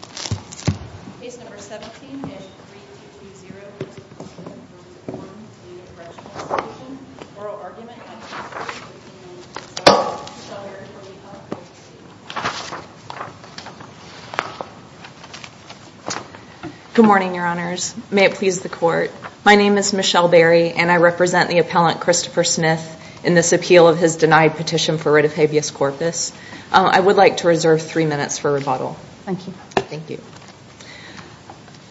Division. Oral argument. Good morning, your honors. May it please the court. My name is Michelle Berry and I represent the appellant Christopher Smith in this appeal of his denied petition for writ of habeas corpus. I would like to reserve three minutes for rebuttal. Thank you.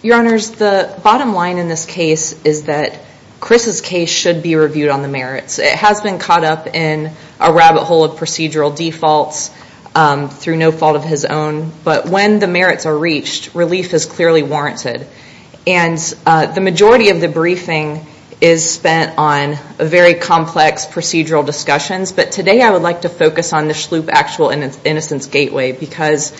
Your honors, the bottom line in this case is that Chris's case should be reviewed on the merits. It has been caught up in a rabbit hole of procedural defaults through no fault of his own. But when the merits are reached, relief is clearly warranted. And the majority of the briefing is spent on a very complex procedural discussions. But today I would like to focus on the Schlup Actual Innocence Gateway because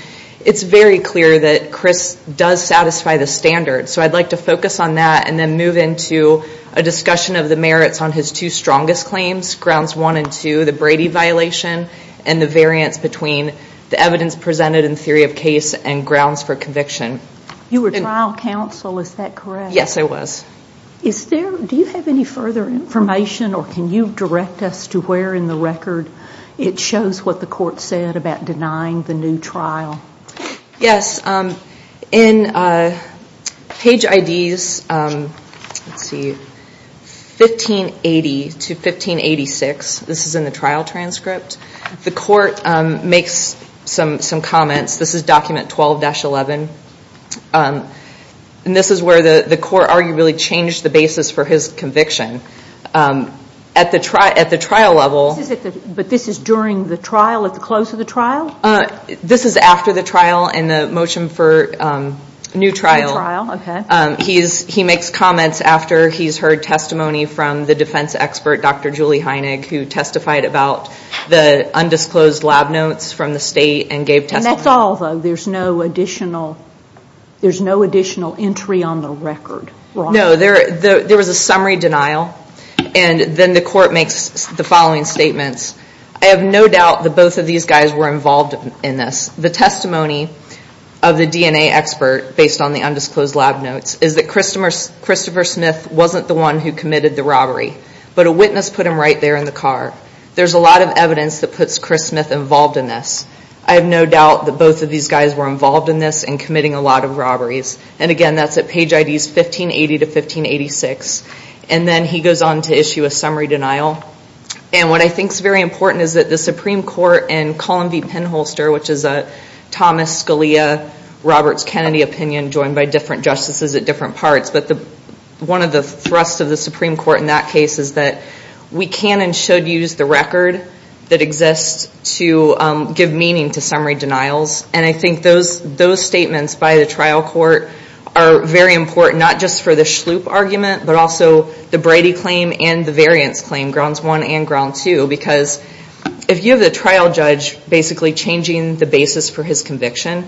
it's very clear that Chris does satisfy the standards. So I'd like to focus on that and then move into a discussion of the merits on his two strongest claims, grounds one and two, the Brady violation and the variance between the evidence presented in theory of case and grounds for conviction. You were trial counsel, is that correct? Yes, I was. Do you have any further information or can you direct us to where in the record it shows what the court said about denying the new trial? Yes, in page IDs 1580 to 1586, this is in the trial transcript, the court makes some comments. This is document 12-11 and this is where the court arguably changed the basis for his conviction. At the trial level. But this is during the trial, at the close of the trial? This is after the trial and the motion for new trial. He makes comments after he's heard testimony from the defense expert Dr. Julie Heinegg who testified about the undisclosed lab notes from the state and gave testimony. And that's all though, there's no additional entry on the record? No, there was a summary denial and then the court makes the following statements. I have no doubt that both of these guys were involved in this. The testimony of the DNA expert based on the undisclosed lab notes is that Christopher Smith wasn't the one who committed the robbery, but a witness put him right there in the car. There's a lot of evidence that puts Chris Smith involved in this. I have no doubt that both of these guys were involved in this and committing a lot of robberies. And again that's at page IDs 1580-1586. And then he goes on to issue a summary denial. And what I think is very important is that the Supreme Court and Colin v. Penholster, which is a Thomas Scalia Roberts Kennedy opinion joined by different justices at different parts, but one of the thrusts of the Supreme Court in that case is that we can and should use the record that I think those statements by the trial court are very important, not just for the Shloop argument, but also the Brady claim and the variance claim, grounds one and ground two. Because if you have a trial judge basically changing the basis for his conviction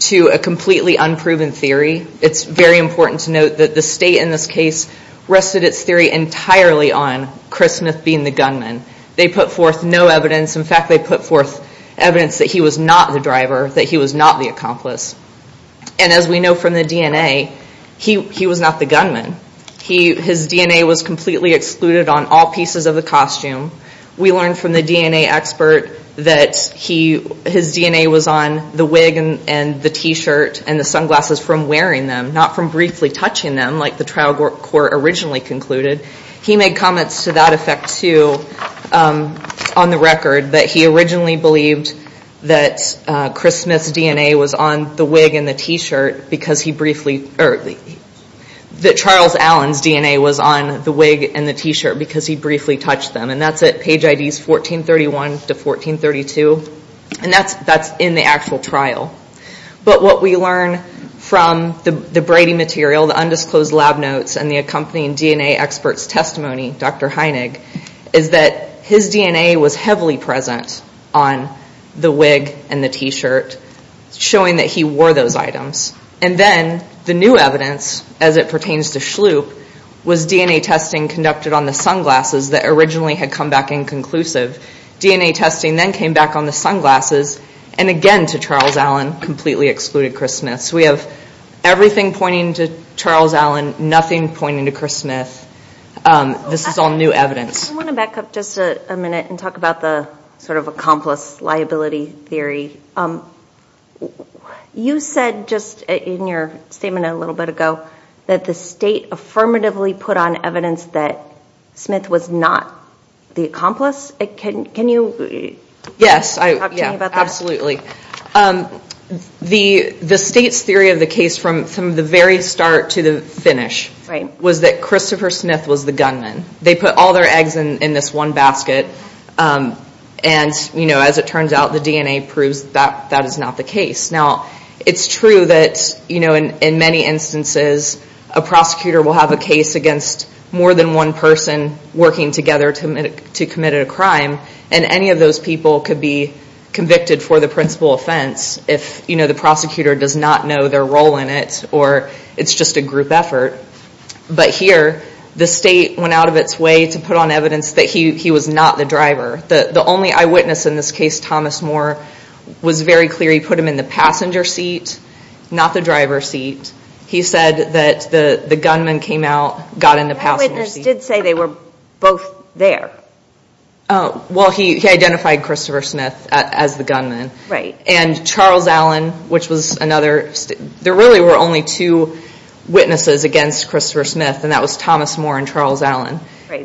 to a completely unproven theory, it's very important to note that the state in this case rested its theory entirely on Chris Smith being the gunman. They put forth no evidence, in fact they put forth evidence that he was not the driver, that he was not the accomplice. And as we know from the DNA, he was not the gunman. His DNA was completely excluded on all pieces of the costume. We learned from the DNA expert that his DNA was on the wig and the t-shirt and the sunglasses from wearing them, not from briefly touching them like the trial court originally concluded. He made comments to that effect too on the record that he originally believed that Chris Smith's DNA was on the wig and the t-shirt because he briefly, or that Charles Allen's DNA was on the wig and the t-shirt because he briefly touched them. And that's at page IDs 1431 to 1432. And that's in the actual trial. But what we learn from the Brady material, the undisclosed lab notes and the accompanying DNA expert's testimony, Dr. Heinig, is that his DNA was heavily present on the wig and the t-shirt, showing that he wore those items. And then the new evidence, as it pertains to Shloop, was DNA testing conducted on the sunglasses that originally had come back inconclusive. DNA testing then came back on the sunglasses, and again to Charles Allen, completely excluded Chris Smith. So we have everything pointing to Charles Allen, nothing pointing to Chris Smith. This is all new evidence. I want to back up just a minute and talk about the sort of accomplice liability theory. You said just in your statement a little bit ago that the state affirmatively put on evidence that Smith was not the accomplice. Can you talk to me about that? Yes, absolutely. The state's theory of the case from the very start to the finish was that Christopher Smith was the gunman. They put all their eggs in this one basket, and as it turns out, the DNA proves that that is not the case. It's true that in many instances a prosecutor will have a case against more than one person working together to commit a crime, and any of those people could be convicted for the principal offense if the prosecutor does not know their role in it or it's just a group effort. But here, the state went out of its way to put on evidence that he was not the passenger seat, not the driver seat. He said that the gunman came out, got in the passenger seat. That witness did say they were both there. Well, he identified Christopher Smith as the gunman. Right. And Charles Allen, which was another, there really were only two witnesses against Christopher Smith, and that was Thomas Moore and Charles Allen.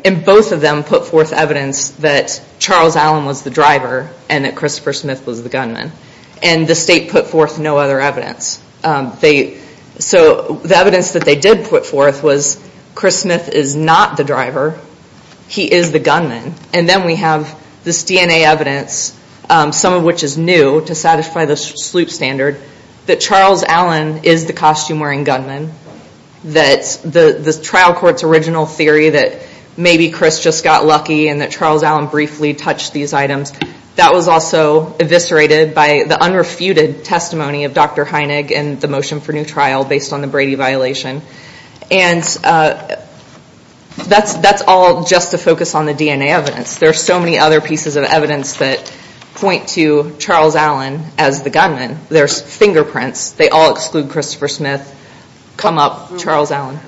And both of them put forth evidence that Charles Allen was the driver and that Christopher Smith was the gunman. And the state put forth no other evidence. So the evidence that they did put forth was Chris Smith is not the driver. He is the gunman. And then we have this DNA evidence, some of which is new to satisfy the SLUIP standard, that Charles Allen is the costume-wearing gunman, that the trial court's original theory that maybe Chris just got lucky and that Charles Allen briefly touched these items, that was also eviscerated by the unrefuted testimony of Dr. Heinegg and the motion for new trial based on the Brady violation. And that's all just to focus on the DNA evidence. There are so many other pieces of evidence that point to Charles Allen as the gunman. There's fingerprints. They all exclude Christopher Smith, come up Charles Allen.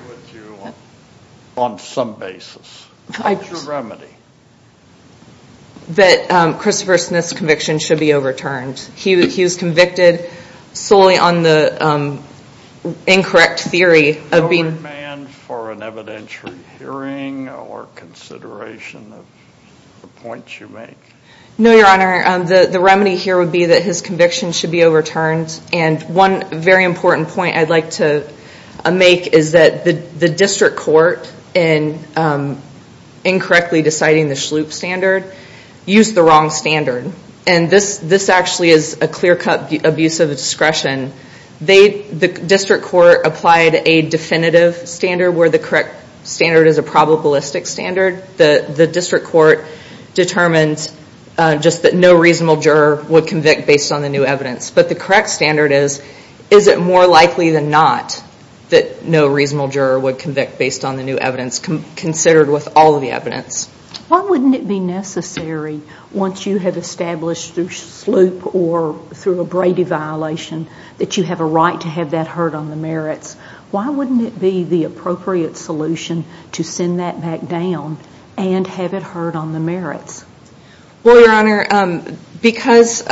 On some basis. What's your remedy? That Christopher Smith's conviction should be overturned. He was convicted solely on the incorrect theory of being... No remand for an evidentiary hearing or consideration of the points you make? No, Your Honor. The remedy here would be that his conviction should be overturned. And one very important point I'd like to make is that the district court, in incorrectly deciding the SLUIP standard, used the wrong standard. And this actually is a clear-cut abuse of discretion. The district court applied a definitive standard, where the correct standard is a probabilistic standard. The district court determined just that no reasonable juror would Is it more likely than not that no reasonable juror would convict based on the new evidence considered with all of the evidence? Why wouldn't it be necessary, once you have established through SLUIP or through a Brady violation, that you have a right to have that heard on the merits? Why wouldn't it be the appropriate solution to send that back down and have it heard on the merits? Well, Your Honor, because...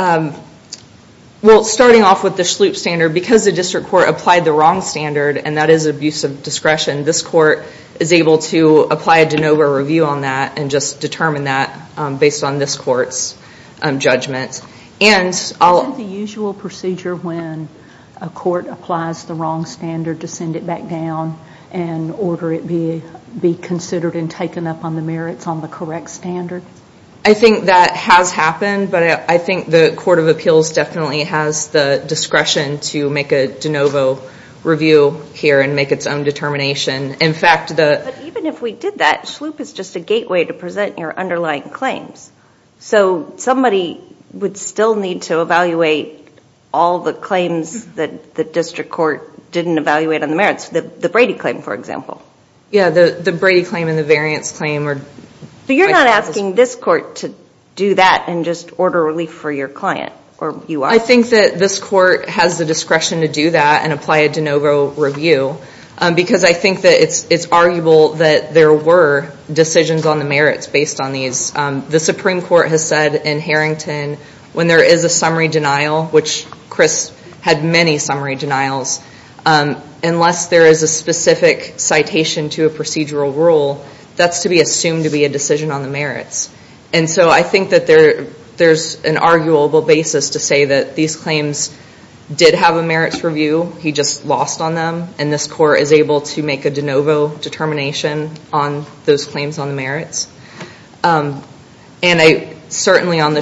Well, starting off with the SLUIP standard, because the district court applied the wrong standard, and that is abuse of discretion, this court is able to apply a de novo review on that and just determine that based on this court's judgment. And I'll... Isn't the usual procedure when a court applies the wrong standard to send it back down and order it be considered and taken up on the merits on the correct standard? I think that has happened, but I think the Court of Appeals definitely has the discretion to make a de novo review here and make its own determination. In fact, the... But even if we did that, SLUIP is just a gateway to present your underlying claims. So somebody would still need to evaluate all the claims that the district court didn't evaluate on for example. Yeah, the Brady claim and the variance claim are... But you're not asking this court to do that and just order relief for your client, or you are? I think that this court has the discretion to do that and apply a de novo review, because I think that it's arguable that there were decisions on the merits based on these. The Supreme Court has said in Harrington, when there is a summary denial, which Chris had many summary denials, unless there is a specific citation to a procedural rule, that's to be assumed to be a decision on the merits. And so I think that there's an arguable basis to say that these claims did have a merits review, he just lost on them, and this court is able to make a de novo determination on those claims on the merits. And I certainly on the...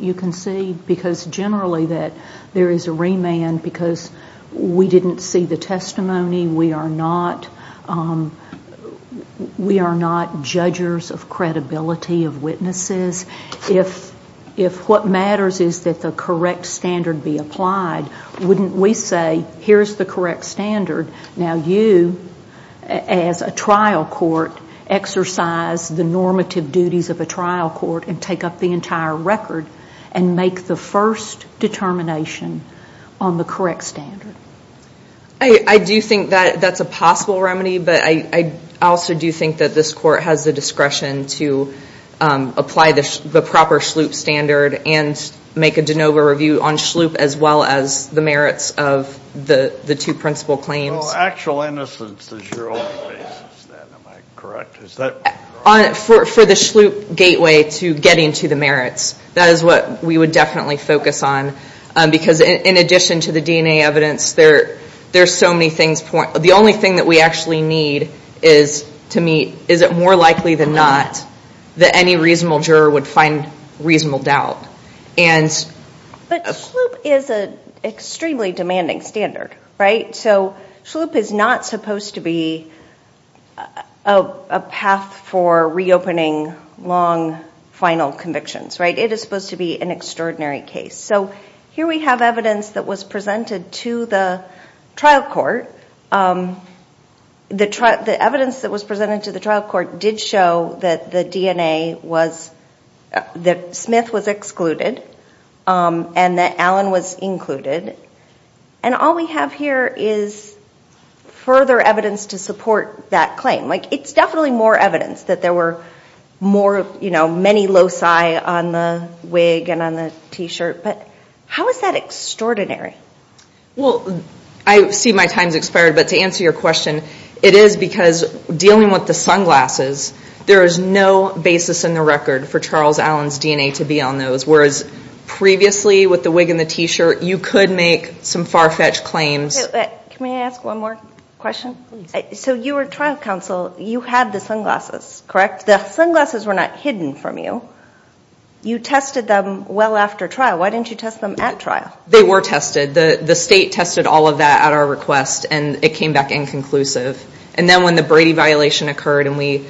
You can see because generally that there is a remand because we didn't see the testimony, we are not judges of credibility of witnesses. If what matters is that the correct standard be applied, wouldn't we say, here's the correct standard, now you, as a trial court, exercise the normative duties of a trial court and take up the entire record and make the first determination on the correct standard? I do think that that's a possible remedy, but I also do think that this court has the discretion to apply the proper SHLUIP standard and make a de novo review on SHLUIP as well as the merits of the two principal claims. Actual innocence is your only basis then, am I correct? For the SHLUIP gateway to getting to the merits, that is what we would definitely focus on because in addition to the DNA evidence, there are so many things. The only thing that we actually need is to meet, is it more likely than not that any reasonable juror would find reasonable doubt. But SHLUIP is an extremely demanding standard, right? So SHLUIP is not supposed to be a path for reopening long final convictions, right? It is supposed to be an extraordinary case. So here we have evidence that was presented to the trial court. The evidence that was included, and that Alan was included, and all we have here is further evidence to support that claim. It's definitely more evidence that there were many loci on the wig and on the t-shirt, but how is that extraordinary? I see my time has expired, but to answer your question, it is because dealing with the sunglasses, there is no basis in the record for Charles Allen's DNA to be on those, whereas previously with the wig and the t-shirt, you could make some far-fetched claims. Can I ask one more question? So you were trial counsel, you had the sunglasses, correct? The sunglasses were not hidden from you. You tested them well after trial. Why didn't you test them at trial? They were tested. The state tested all of that at our request and it came back inconclusive. And then when the Brady violation occurred and we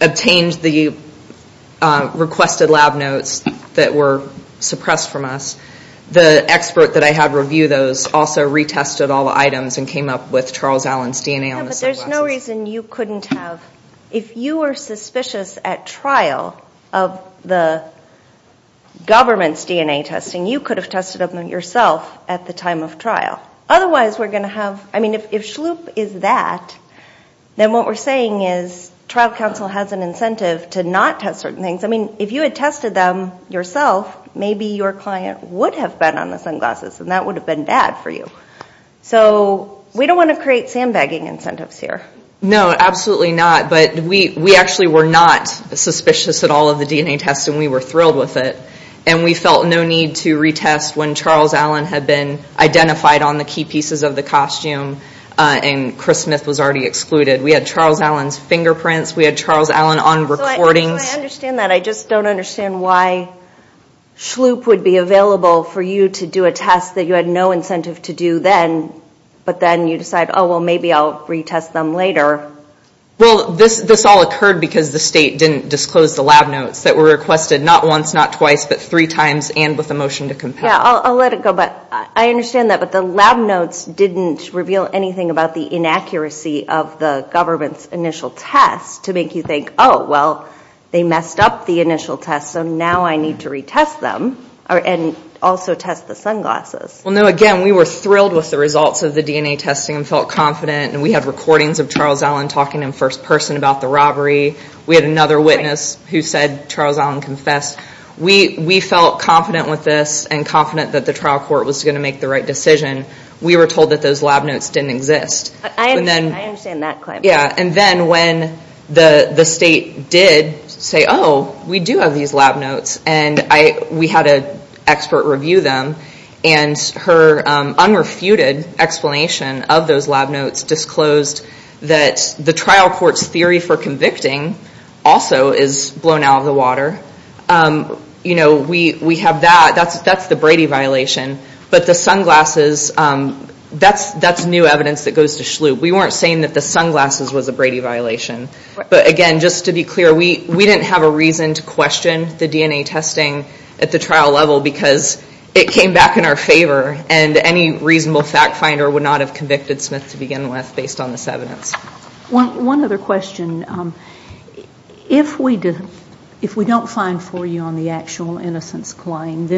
obtained the requested lab notes that were suppressed from us, the expert that I had review those also retested all the items and came up with Charles Allen's DNA on the sunglasses. Yeah, but there's no reason you couldn't have. If you were suspicious at trial of the government's DNA testing, you could have tested them yourself at the time of trial. Otherwise, we're going to have, I mean, if SHLOOP is that, then what we're saying is trial counsel has an incentive to not test certain things. I mean, if you had tested them yourself, maybe your client would have been on the sunglasses and that would have been bad for you. So we don't want to create sandbagging incentives here. No, absolutely not. But we actually were not suspicious at all of the DNA tests and we were thrilled with it. And we felt no need to retest when Charles Allen had been identified on the key pieces of the costume and Chris Smith was already excluded. We had Charles Allen's fingerprints. We had Charles Allen on recordings. So I understand that. I just don't understand why SHLOOP would be available for you to do a test that you had no incentive to do then, but then you decide, oh, well, maybe I'll retest them later. Well, this all occurred because the state didn't disclose the lab notes that were requested not once, not twice, but three times and with a motion to compare. Yeah, I'll let it go. But I understand that. But the lab notes didn't reveal anything about the inaccuracy of the government's initial test to make you think, oh, well, they messed up the initial test, so now I need to retest them and also test the sunglasses. Well, no, again, we were thrilled with the results of the DNA testing and felt confident. And we had recordings of Charles Allen talking in first person about the robbery. We had another witness who said Charles Allen confessed. We felt confident with this and confident that the trial court was going to make the right decision. We were told that those lab notes didn't exist. But I understand that claim. Yeah. And then when the state did say, oh, we do have these lab notes and we had an expert review them and her unrefuted explanation of those lab notes disclosed that the trial court's theory for convicting also is blown out of the water, you know, we have that. That's the Brady violation. But the sunglasses, that's new evidence that goes to SHLU. We weren't saying that the sunglasses was a Brady violation. But again, just to be clear, we didn't have a reason to question the DNA testing at the trial level because it came back in our favor and any reasonable fact finder would not have convicted Smith to begin with based on this evidence. One other question. If we don't find for you on the actual innocence claim,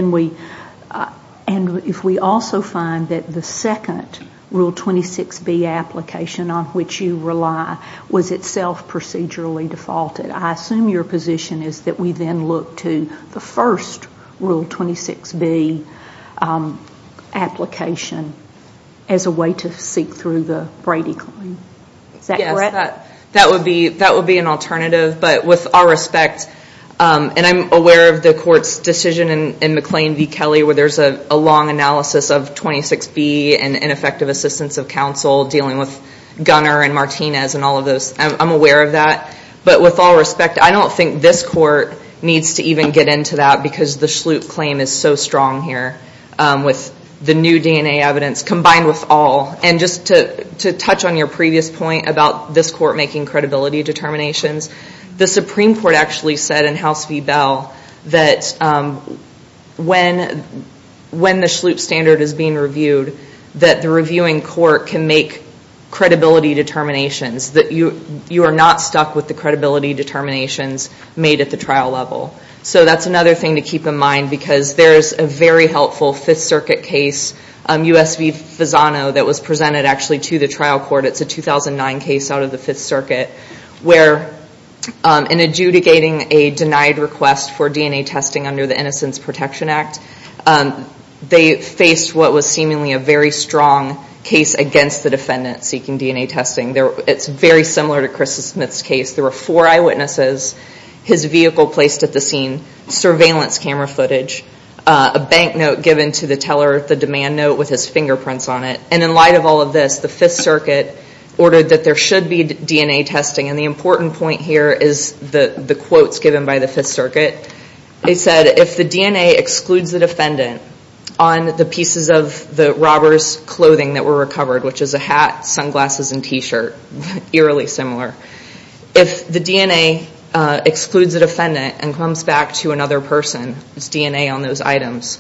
and if we also find that the second Rule 26B application on which you rely was itself procedurally defaulted, I assume your position is that we then look to the first Rule 26B application as a way to seek through the Brady claim. Is that correct? Yes. That would be an alternative. But with all respect, and I'm aware of the court's decision in McLean v. Kelly where there's a long analysis of 26B and ineffective assistance of counsel dealing with Gunner and Martinez and all of those. I'm aware of that. But with all respect, I don't think this court needs to even get into that because the SHLU claim is so strong here with the new DNA evidence combined with all. And just to touch on your previous point about this court making credibility determinations, the Supreme Court actually said in House v. Bell that when the SHLU standard is being reviewed, that the reviewing court can make credibility determinations, that you are not stuck with the credibility determinations made at the trial level. So that's another thing to keep in mind because there's a very helpful Fifth Circuit case, U.S. v. Fasano, that was presented actually to the trial court. It's a 2009 case out of the Fifth Circuit where in adjudicating a denied request for DNA testing under the Innocence Protection Act, they faced what was seemingly a very strong case against the defendant seeking DNA testing. It's very similar to Krista his vehicle placed at the scene, surveillance camera footage, a bank note given to the teller, the demand note with his fingerprints on it. And in light of all of this, the Fifth Circuit ordered that there should be DNA testing. And the important point here is the quotes given by the Fifth Circuit. They said, if the DNA excludes the defendant on the pieces of the robber's clothing that were recovered, which is a hat, sunglasses and t-shirt, eerily similar, if the DNA excludes the defendant and comes back to another person's DNA on those items,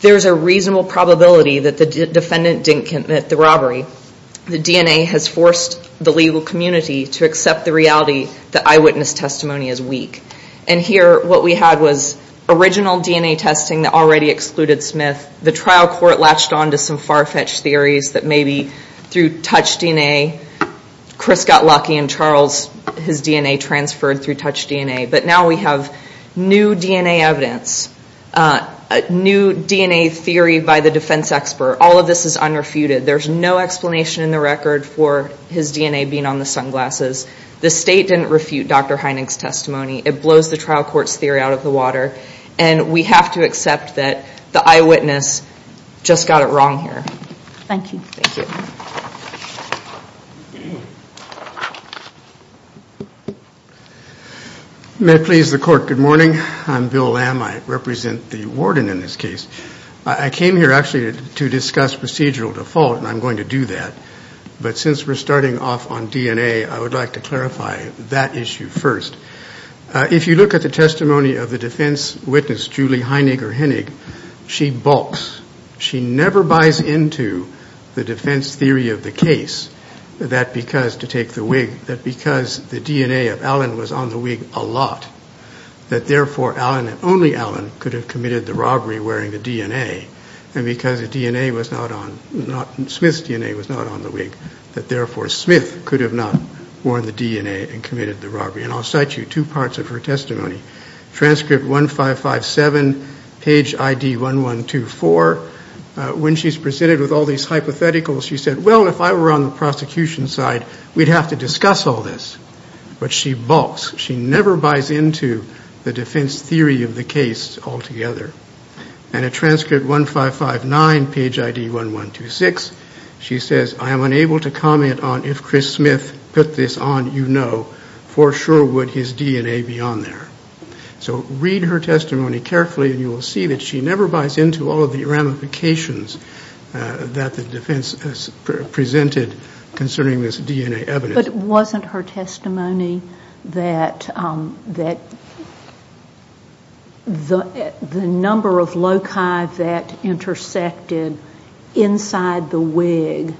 there's a reasonable probability that the defendant didn't commit the robbery. The DNA has forced the legal community to accept the reality that eyewitness testimony is weak. And here what we had was original DNA testing that already excluded Smith. The trial court latched on to some far-fetched theories that maybe through touch DNA, Chris got lucky and Charles, his DNA transferred through touch DNA. But now we have new DNA evidence, new DNA theory by the defense expert. All of this is unrefuted. There's no explanation in the record for his DNA being on the sunglasses. The state didn't refute Dr. Heining's testimony. It blows the trial court's theory out of the water. And we have to accept that the eyewitness just got it wrong here. Thank you. Thank you. May it please the court, good morning. I'm Bill Lamb. I represent the warden in this case. I came here actually to discuss procedural default and I'm going to do that. But since we're starting off on DNA, I would like to clarify that issue first. If you look at the defense theory of the case, that because to take the wig, that because the DNA of Alan was on the wig a lot, that therefore Alan, only Alan, could have committed the robbery wearing the DNA. And because Smith's DNA was not on the wig, that therefore Smith could have not worn the DNA and committed the robbery. And I'll cite you two parts of her testimony. Transcript 1557, page ID 1124. When she's presented with all these hypotheticals, she said, well, if I were on the prosecution side, we'd have to discuss all this. But she balks. She never buys into the defense theory of the case altogether. And at transcript 1559, page ID 1126, she says, I am unable to comment on if Chris Smith put this on, you know, for sure would his DNA be on there. So read her testimony carefully and you will see that she never buys into all of the ramifications that the defense has presented concerning this DNA evidence. But wasn't her testimony that the number of loci that intersected inside the wig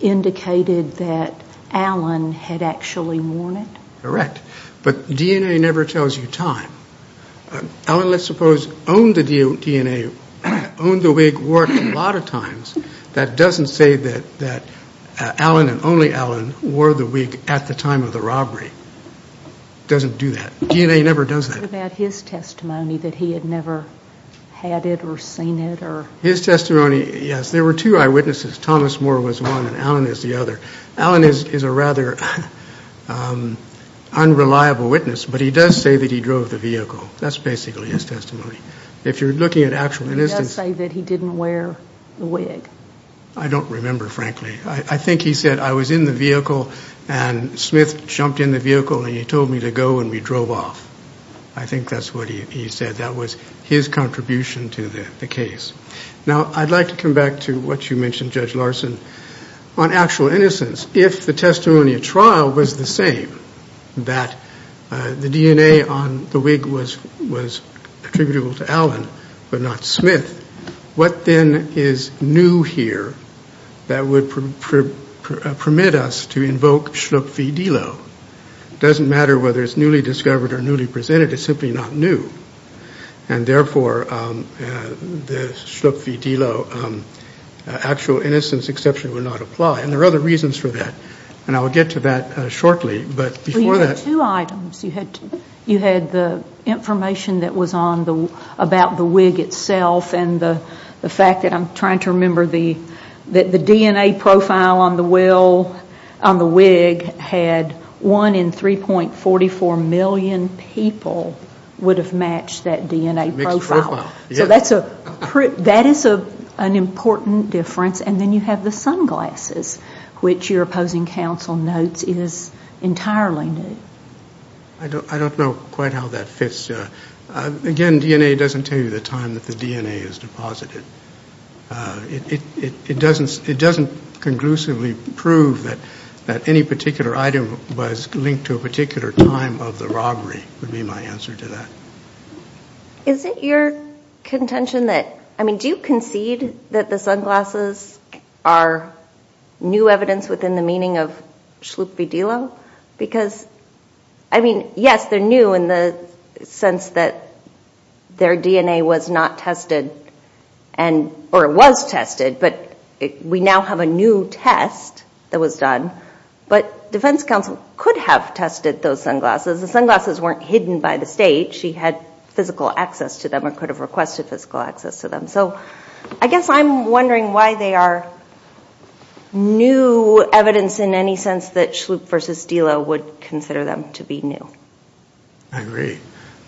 indicated that Alan had actually worn it? Correct. But DNA never tells you time. Alan, let's suppose, owned the DNA, owned the wig, wore it a lot of times. That doesn't say that Alan and only Alan wore the wig at the time of the robbery. Doesn't do that. DNA never does that. What about his testimony, that he had never had it or seen it or? His testimony, yes. There were two eyewitnesses. Thomas Moore was one and Alan is the other. Alan is a rather unreliable witness, but he does say that he drove the vehicle. That's basically his testimony. If you're looking at actual innocence. He does say that he didn't wear the wig. I don't remember, frankly. I think he said, I was in the vehicle and Smith jumped in the vehicle and he told me to go and we drove off. I think that's what he said. That was his contribution to the case. Now I'd like to come back to what you mentioned, Judge Larson. On actual innocence, if the testimony at trial was the same, that the DNA on the wig was attributable to Alan but not Smith, what then is new here that would permit us to invoke Schlupf v. Dillow? It doesn't matter whether it's newly discovered or newly presented. It's simply not new. Therefore, the Schlupf v. Dillow actual innocence exception would not apply. There are other reasons for that. I will get to that shortly. You had two items. You had the information that was on about the wig itself and the fact that I'm trying to remember that the DNA profile on the wig had one in 3.44 million people would have matched that DNA profile. That is an important difference. Then you have the sunglasses, which your opposing counsel notes is entirely new. I don't know quite how that fits. Again, DNA doesn't tell you the time that the DNA is deposited. It doesn't conclusively prove that any particular item was linked to a particular time of the robbery would be my answer to that. Is it your contention that, I mean, do you concede that the sunglasses are new evidence within the meaning of Schlupf v. Dillow? Because, I mean, yes, they're new in the sense that their DNA was not tested or was tested, but we now have a new test that was done. But defense counsel could have tested those sunglasses. The sunglasses weren't hidden by the state. She had physical access to them or could have requested physical access to them. So I guess I'm wondering why they are new evidence in any sense that Schlupf v. Dillow would consider them to be new. I agree.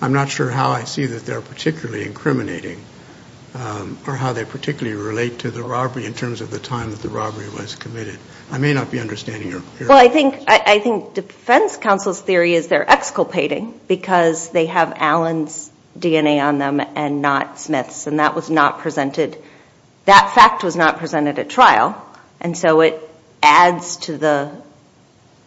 I'm not sure how I see that they're particularly incriminating or how they particularly relate to the robbery in terms of the time that the robbery was committed. I may not be understanding your question. Well, I think defense counsel's theory is they're exculpating because they have Allen's DNA on them and not Smith's. And that was not presented, that fact was not presented at trial. And so it adds to the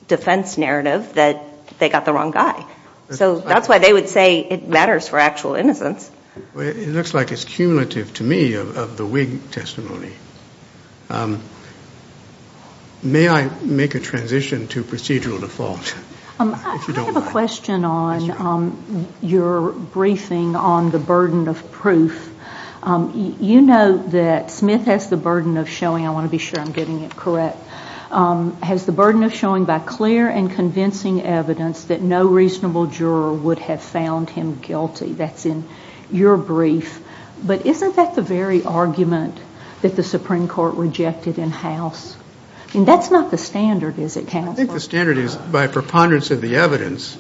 defense narrative that they got the wrong guy. So that's why they would say it matters for actual innocence. Well, it looks like it's cumulative to me of the Whig testimony. May I make a transition to procedural default, if you don't mind? I have a question on your briefing on the burden of proof. You note that Smith has the burden of showing, I want to be sure I'm getting it correct, has the burden of showing by clear and convincing evidence that no reasonable juror would have found him guilty. That's in your brief. But isn't that the very argument that the Supreme Court rejected in house? That's not the standard, is it, counsel? I think the standard is by preponderance of the evidence,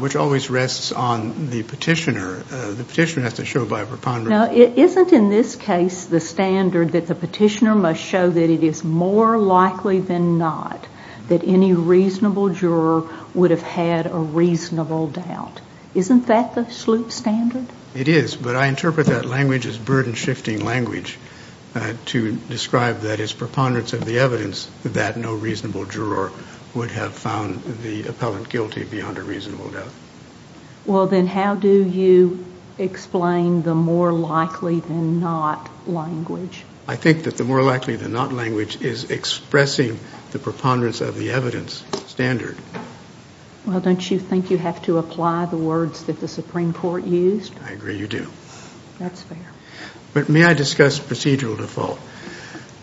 which always rests on the petitioner. The petitioner has to show by preponderance. Now, isn't in this case the standard that the petitioner must show that it is more likely than not that any reasonable juror would have had a reasonable doubt? Isn't that the Sloop standard? It is, but I interpret that language as burden shifting language to describe that as preponderance of the evidence that no reasonable juror would have found the appellant guilty beyond a reasonable doubt. Well, then how do you explain the more likely than not language? I think that the more likely than not language is expressing the preponderance of the evidence standard. Well, don't you think you have to apply the words that the Supreme Court used? I agree you do. That's fair. But may I discuss procedural default?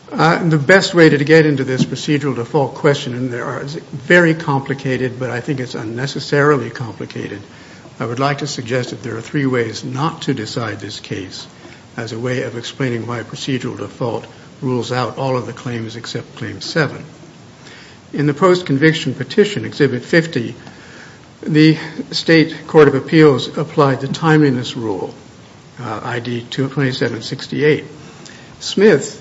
The best way to get into this procedural default question, and there are very complicated, but I think it's unnecessarily complicated, I would like to suggest that there are three ways not to decide this case as a way of explaining why procedural default rules out all of the claims except claim seven. In the post-conviction petition, Exhibit 50, the State Court of Appeals applied the timeliness rule, ID 2768. Smith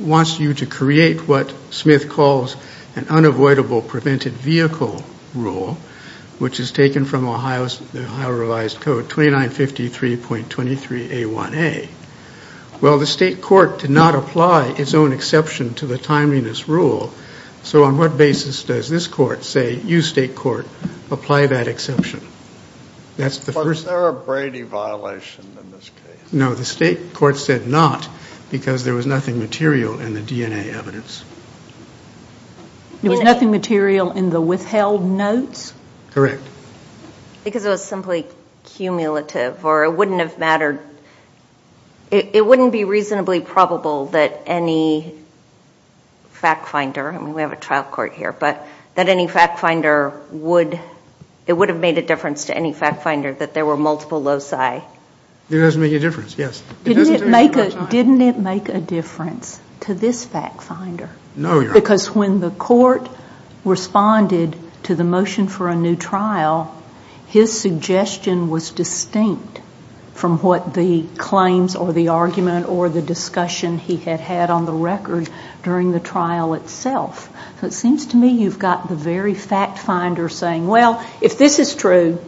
wants you to create what Smith calls an unavoidable prevented vehicle rule, which is taken from Ohio's revised code, 2953.23A1A. Well, the State Court did not apply its own exception to the timeliness rule, so on what basis does this court say, you State Court, apply that exception? Was there a Brady violation in this case? No, the State Court said not because there was nothing material in the DNA evidence. There was nothing material in the withheld notes? Correct. Because it was simply cumulative, or it wouldn't have mattered. It wouldn't be reasonably probable that any fact finder, and we have a trial court here, but that any fact finder would, it would have made a difference to any fact finder that there were multiple loci. It doesn't make a difference, yes. Didn't it make a difference to this fact finder? No, Your Honor. Because when the court responded to the motion for a new trial, his suggestion was distinct from what the claims or the argument or the discussion he had had on the record during the trial itself. So it seems to me you've got the very fact finder saying, well, if this is true,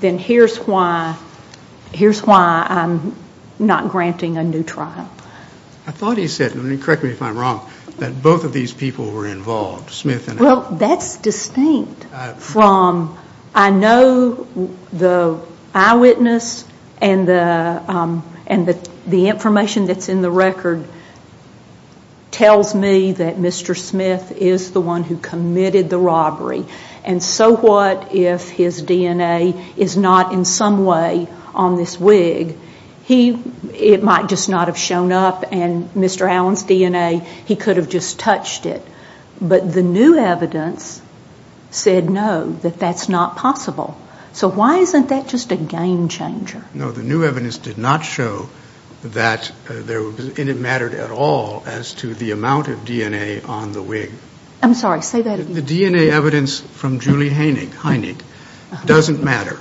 then here's why I'm not granting a new trial. I thought he said, and correct me if I'm wrong, that both of these people were involved, Smith and Ackerman. Well, that's distinct from, I know the eyewitness and the information that's in the record tells me that Mr. Smith is the one who committed the robbery. And so what if his DNA is not in some way on this wig? It might just not have shown up, and Mr. Allen's DNA, he could have just touched it. But the new evidence said no, that that's not possible. So why isn't that just a game changer? No, the new evidence did not show that it mattered at all as to the amount of DNA on the wig. I'm sorry, say that again. The DNA evidence from Julie Heinig doesn't matter.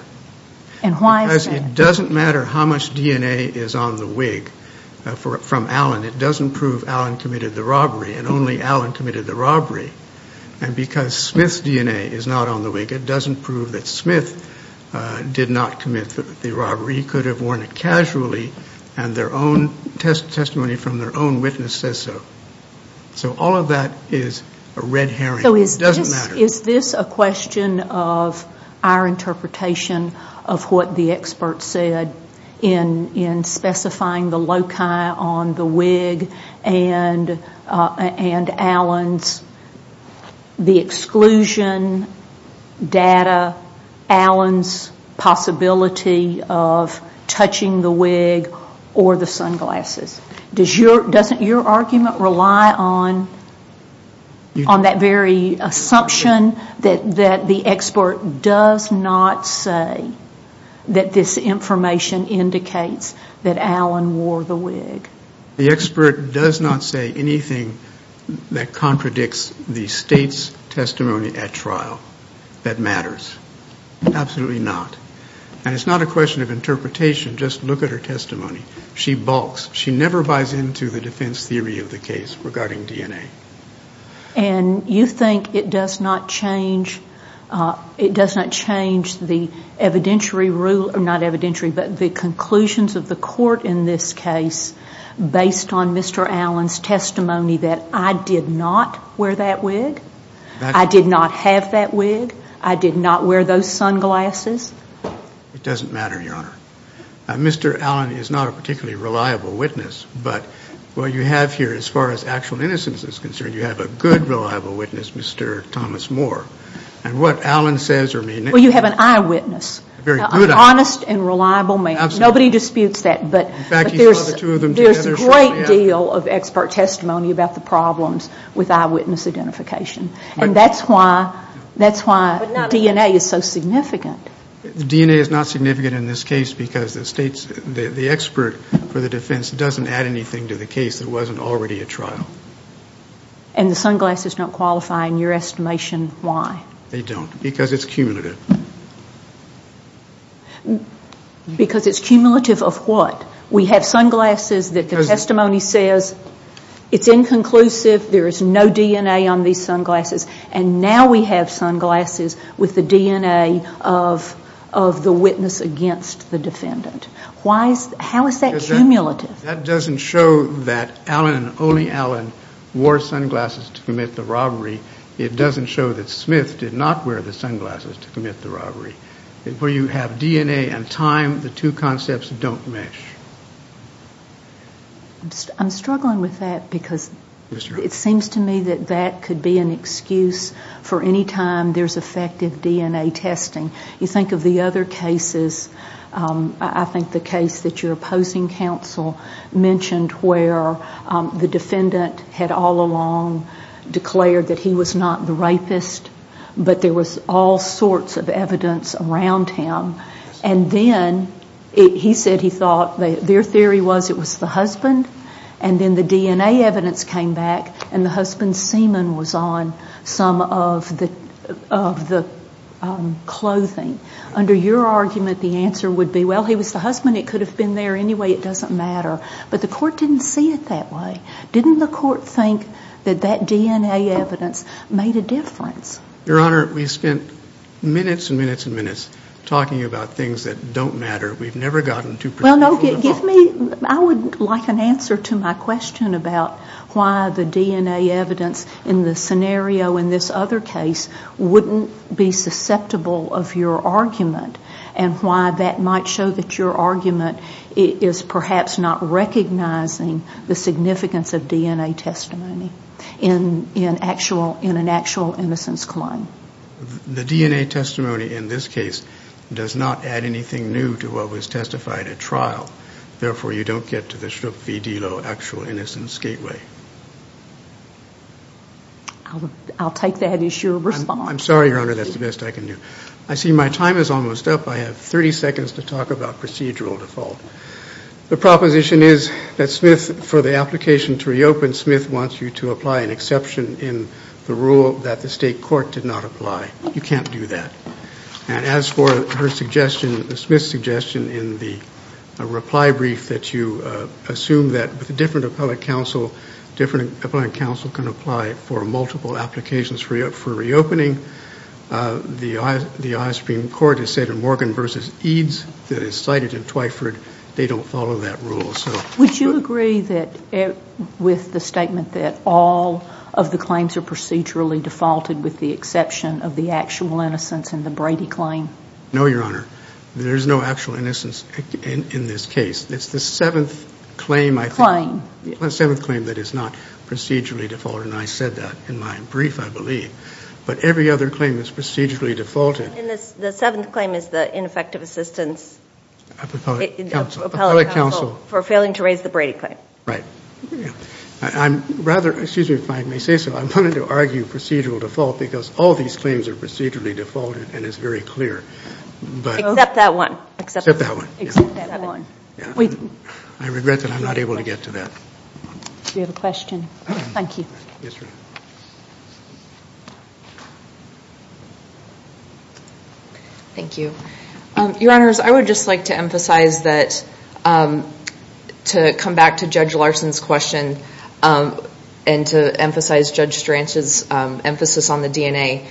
And why is that? Because it doesn't matter how much DNA is on the wig from Allen. It doesn't prove Allen committed the robbery, and only Allen committed the robbery. And because Smith's DNA is not on the wig, it doesn't prove that Smith did not commit the robbery, could have worn it casually, and their own testimony from their own witness says so. So all of that is a red herring, it doesn't matter. Is this a question of our interpretation of what the experts said in specifying the loci on the wig and Allen's, the exclusion data, Allen's possibility of touching the wig or the sunglasses? Doesn't your argument rely on that very assumption that the expert does not say that this information indicates that Allen wore the wig? The expert does not say anything that contradicts the state's testimony at trial that matters. Absolutely not. And it's not a question of interpretation, just look at her testimony. She balks. She never buys into the defense theory of the case regarding DNA. And you think it does not change the conclusions of the court in this case based on Mr. Allen's testimony that I did not wear that wig, I did not have that wig, I did not wear those sunglasses? It doesn't matter, Your Honor. Mr. Allen is not a particularly reliable witness, but what you have here as far as actual innocence is concerned, you have a good reliable witness, Mr. Thomas Moore. And what Allen says or may not... Well, you have an eyewitness, an honest and reliable man. Nobody disputes that, but there's a great deal of expert testimony about the problems with eyewitness identification. And that's why DNA is so significant. DNA is not significant in this case because the state's, the expert for the defense doesn't add anything to the case that wasn't already a trial. And the sunglasses don't qualify in your estimation why? They don't, because it's cumulative. Because it's cumulative of what? We have sunglasses that the testimony says it's inconclusive, there is no DNA on these sunglasses and now we have sunglasses with the DNA of the witness against the defendant. Why is, how is that cumulative? That doesn't show that Allen, only Allen, wore sunglasses to commit the robbery. It doesn't show that Smith did not wear the sunglasses to commit the robbery. Where you have DNA and time, the two concepts don't mesh. I'm struggling with that because it seems to me that that could be an excuse for any time there's effective DNA testing. You think of the other cases, I think the case that you're opposing counsel mentioned where the defendant had all along declared that he was not the rapist, but there was all sorts of evidence around him. And then he said he thought, their theory was it was the husband, and then the DNA evidence came back and the husband's semen was on some of the clothing. Under your argument, the answer would be, well, he was the husband, it could have been there anyway, it doesn't matter. But the court didn't see it that way. Didn't the court think that that DNA evidence made a difference? Your Honor, we spent minutes and minutes and minutes talking about things that don't matter. We've never gotten to a particular point. No, no, give me, I would like an answer to my question about why the DNA evidence in the scenario in this other case wouldn't be susceptible of your argument and why that might show that your argument is perhaps not recognizing the significance of DNA testimony in an actual innocence claim. The DNA testimony in this case does not add anything new to what was testified at trial. Therefore you don't get to the Shook v. Delo actual innocence gateway. I'll take that as your response. I'm sorry, Your Honor, that's the best I can do. I see my time is almost up, I have 30 seconds to talk about procedural default. The proposition is that Smith, for the application to reopen, Smith wants you to apply an exception in the rule that the state court did not apply. You can't do that. And as for her suggestion, Smith's suggestion in the reply brief that you assume that with a different appellate counsel, different appellate counsel can apply for multiple applications for reopening, the Supreme Court has said in Morgan v. Eads that is cited in Twyford, they don't follow that rule. Would you agree with the statement that all of the claims are procedurally defaulted with the exception of the actual innocence in the Brady claim? No, Your Honor. There's no actual innocence in this case. It's the seventh claim, I think, the seventh claim that is not procedurally defaulted. And I said that in my brief, I believe. But every other claim is procedurally defaulted. The seventh claim is the ineffective assistance of appellate counsel for failing to raise the Brady claim. Right. I'm rather, excuse me if I may say so, I'm going to argue procedural default because all these claims are procedurally defaulted and it's very clear. Except that one. Except that one. Except that one. I regret that I'm not able to get to that. Do you have a question? Thank you. Yes, Your Honor. Thank you. Your Honors, I would just like to emphasize that, to come back to Judge Larson's question and to emphasize Judge Stranch's emphasis on the DNA.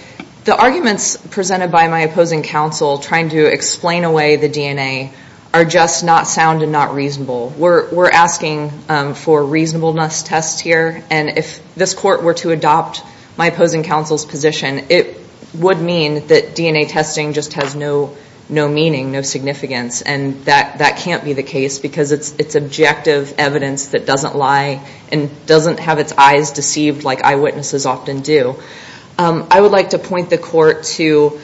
The arguments presented by my opposing counsel trying to explain away the DNA are just not sound and not reasonable. We're asking for reasonableness tests here and if this court were to adopt my opposing counsel's position, it would mean that DNA testing just has no meaning, no significance. And that can't be the case because it's objective evidence that doesn't lie and doesn't have its eyes deceived like eyewitnesses often do. I would like to point the court to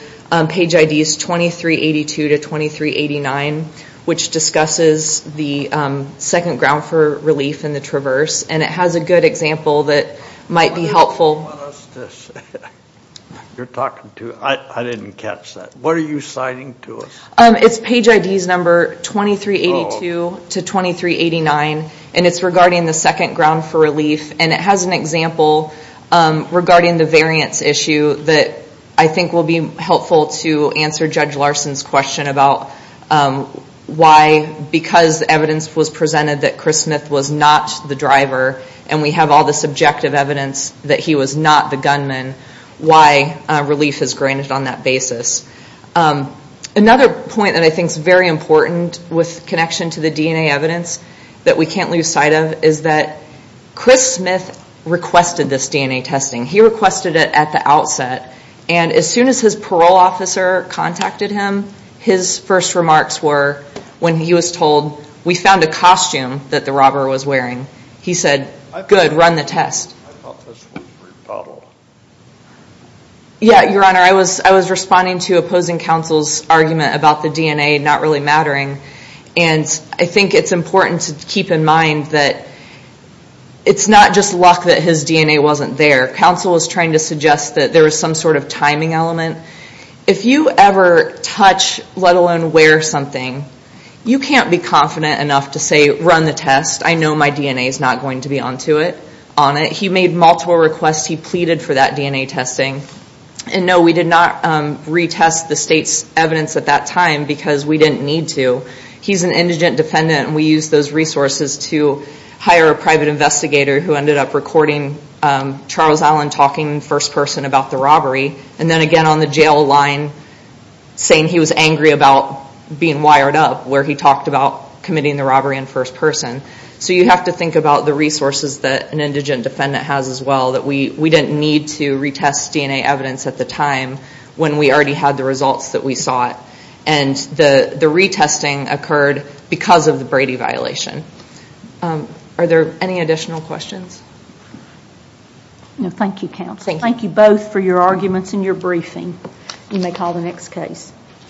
page IDs 2382 to 2389, which discusses the second ground for relief in the traverse. And it has a good example that might be helpful. You're talking to, I didn't catch that. What are you citing to us? It's page IDs number 2382 to 2389 and it's regarding the second ground for relief. And it has an example regarding the variance issue that I think will be helpful to answer Judge Larson's question about why, because evidence was presented that Chris Smith was not the driver and we have all this objective evidence that he was not the gunman, why relief is granted on that basis. Another point that I think is very important with connection to the DNA evidence that we can't lose sight of is that Chris Smith requested this DNA testing. He requested it at the outset and as soon as his parole officer contacted him, his first wearing, he said, good, run the test. I thought this was rebuttal. Yeah, your honor, I was responding to opposing counsel's argument about the DNA not really mattering and I think it's important to keep in mind that it's not just luck that his DNA wasn't there. Counsel was trying to suggest that there was some sort of timing element. If you ever touch, let alone wear something, you can't be confident enough to say, run the test. I know my DNA is not going to be on it. He made multiple requests. He pleaded for that DNA testing and no, we did not retest the state's evidence at that time because we didn't need to. He's an indigent defendant and we used those resources to hire a private investigator who ended up recording Charles Allen talking first person about the robbery and then again on the jail line saying he was angry about being wired up where he talked about committing the robbery in first person. So you have to think about the resources that an indigent defendant has as well. We didn't need to retest DNA evidence at the time when we already had the results that we sought and the retesting occurred because of the Brady violation. Are there any additional questions? Thank you counsel. Thank you both for your arguments and your briefing. You may call the next case.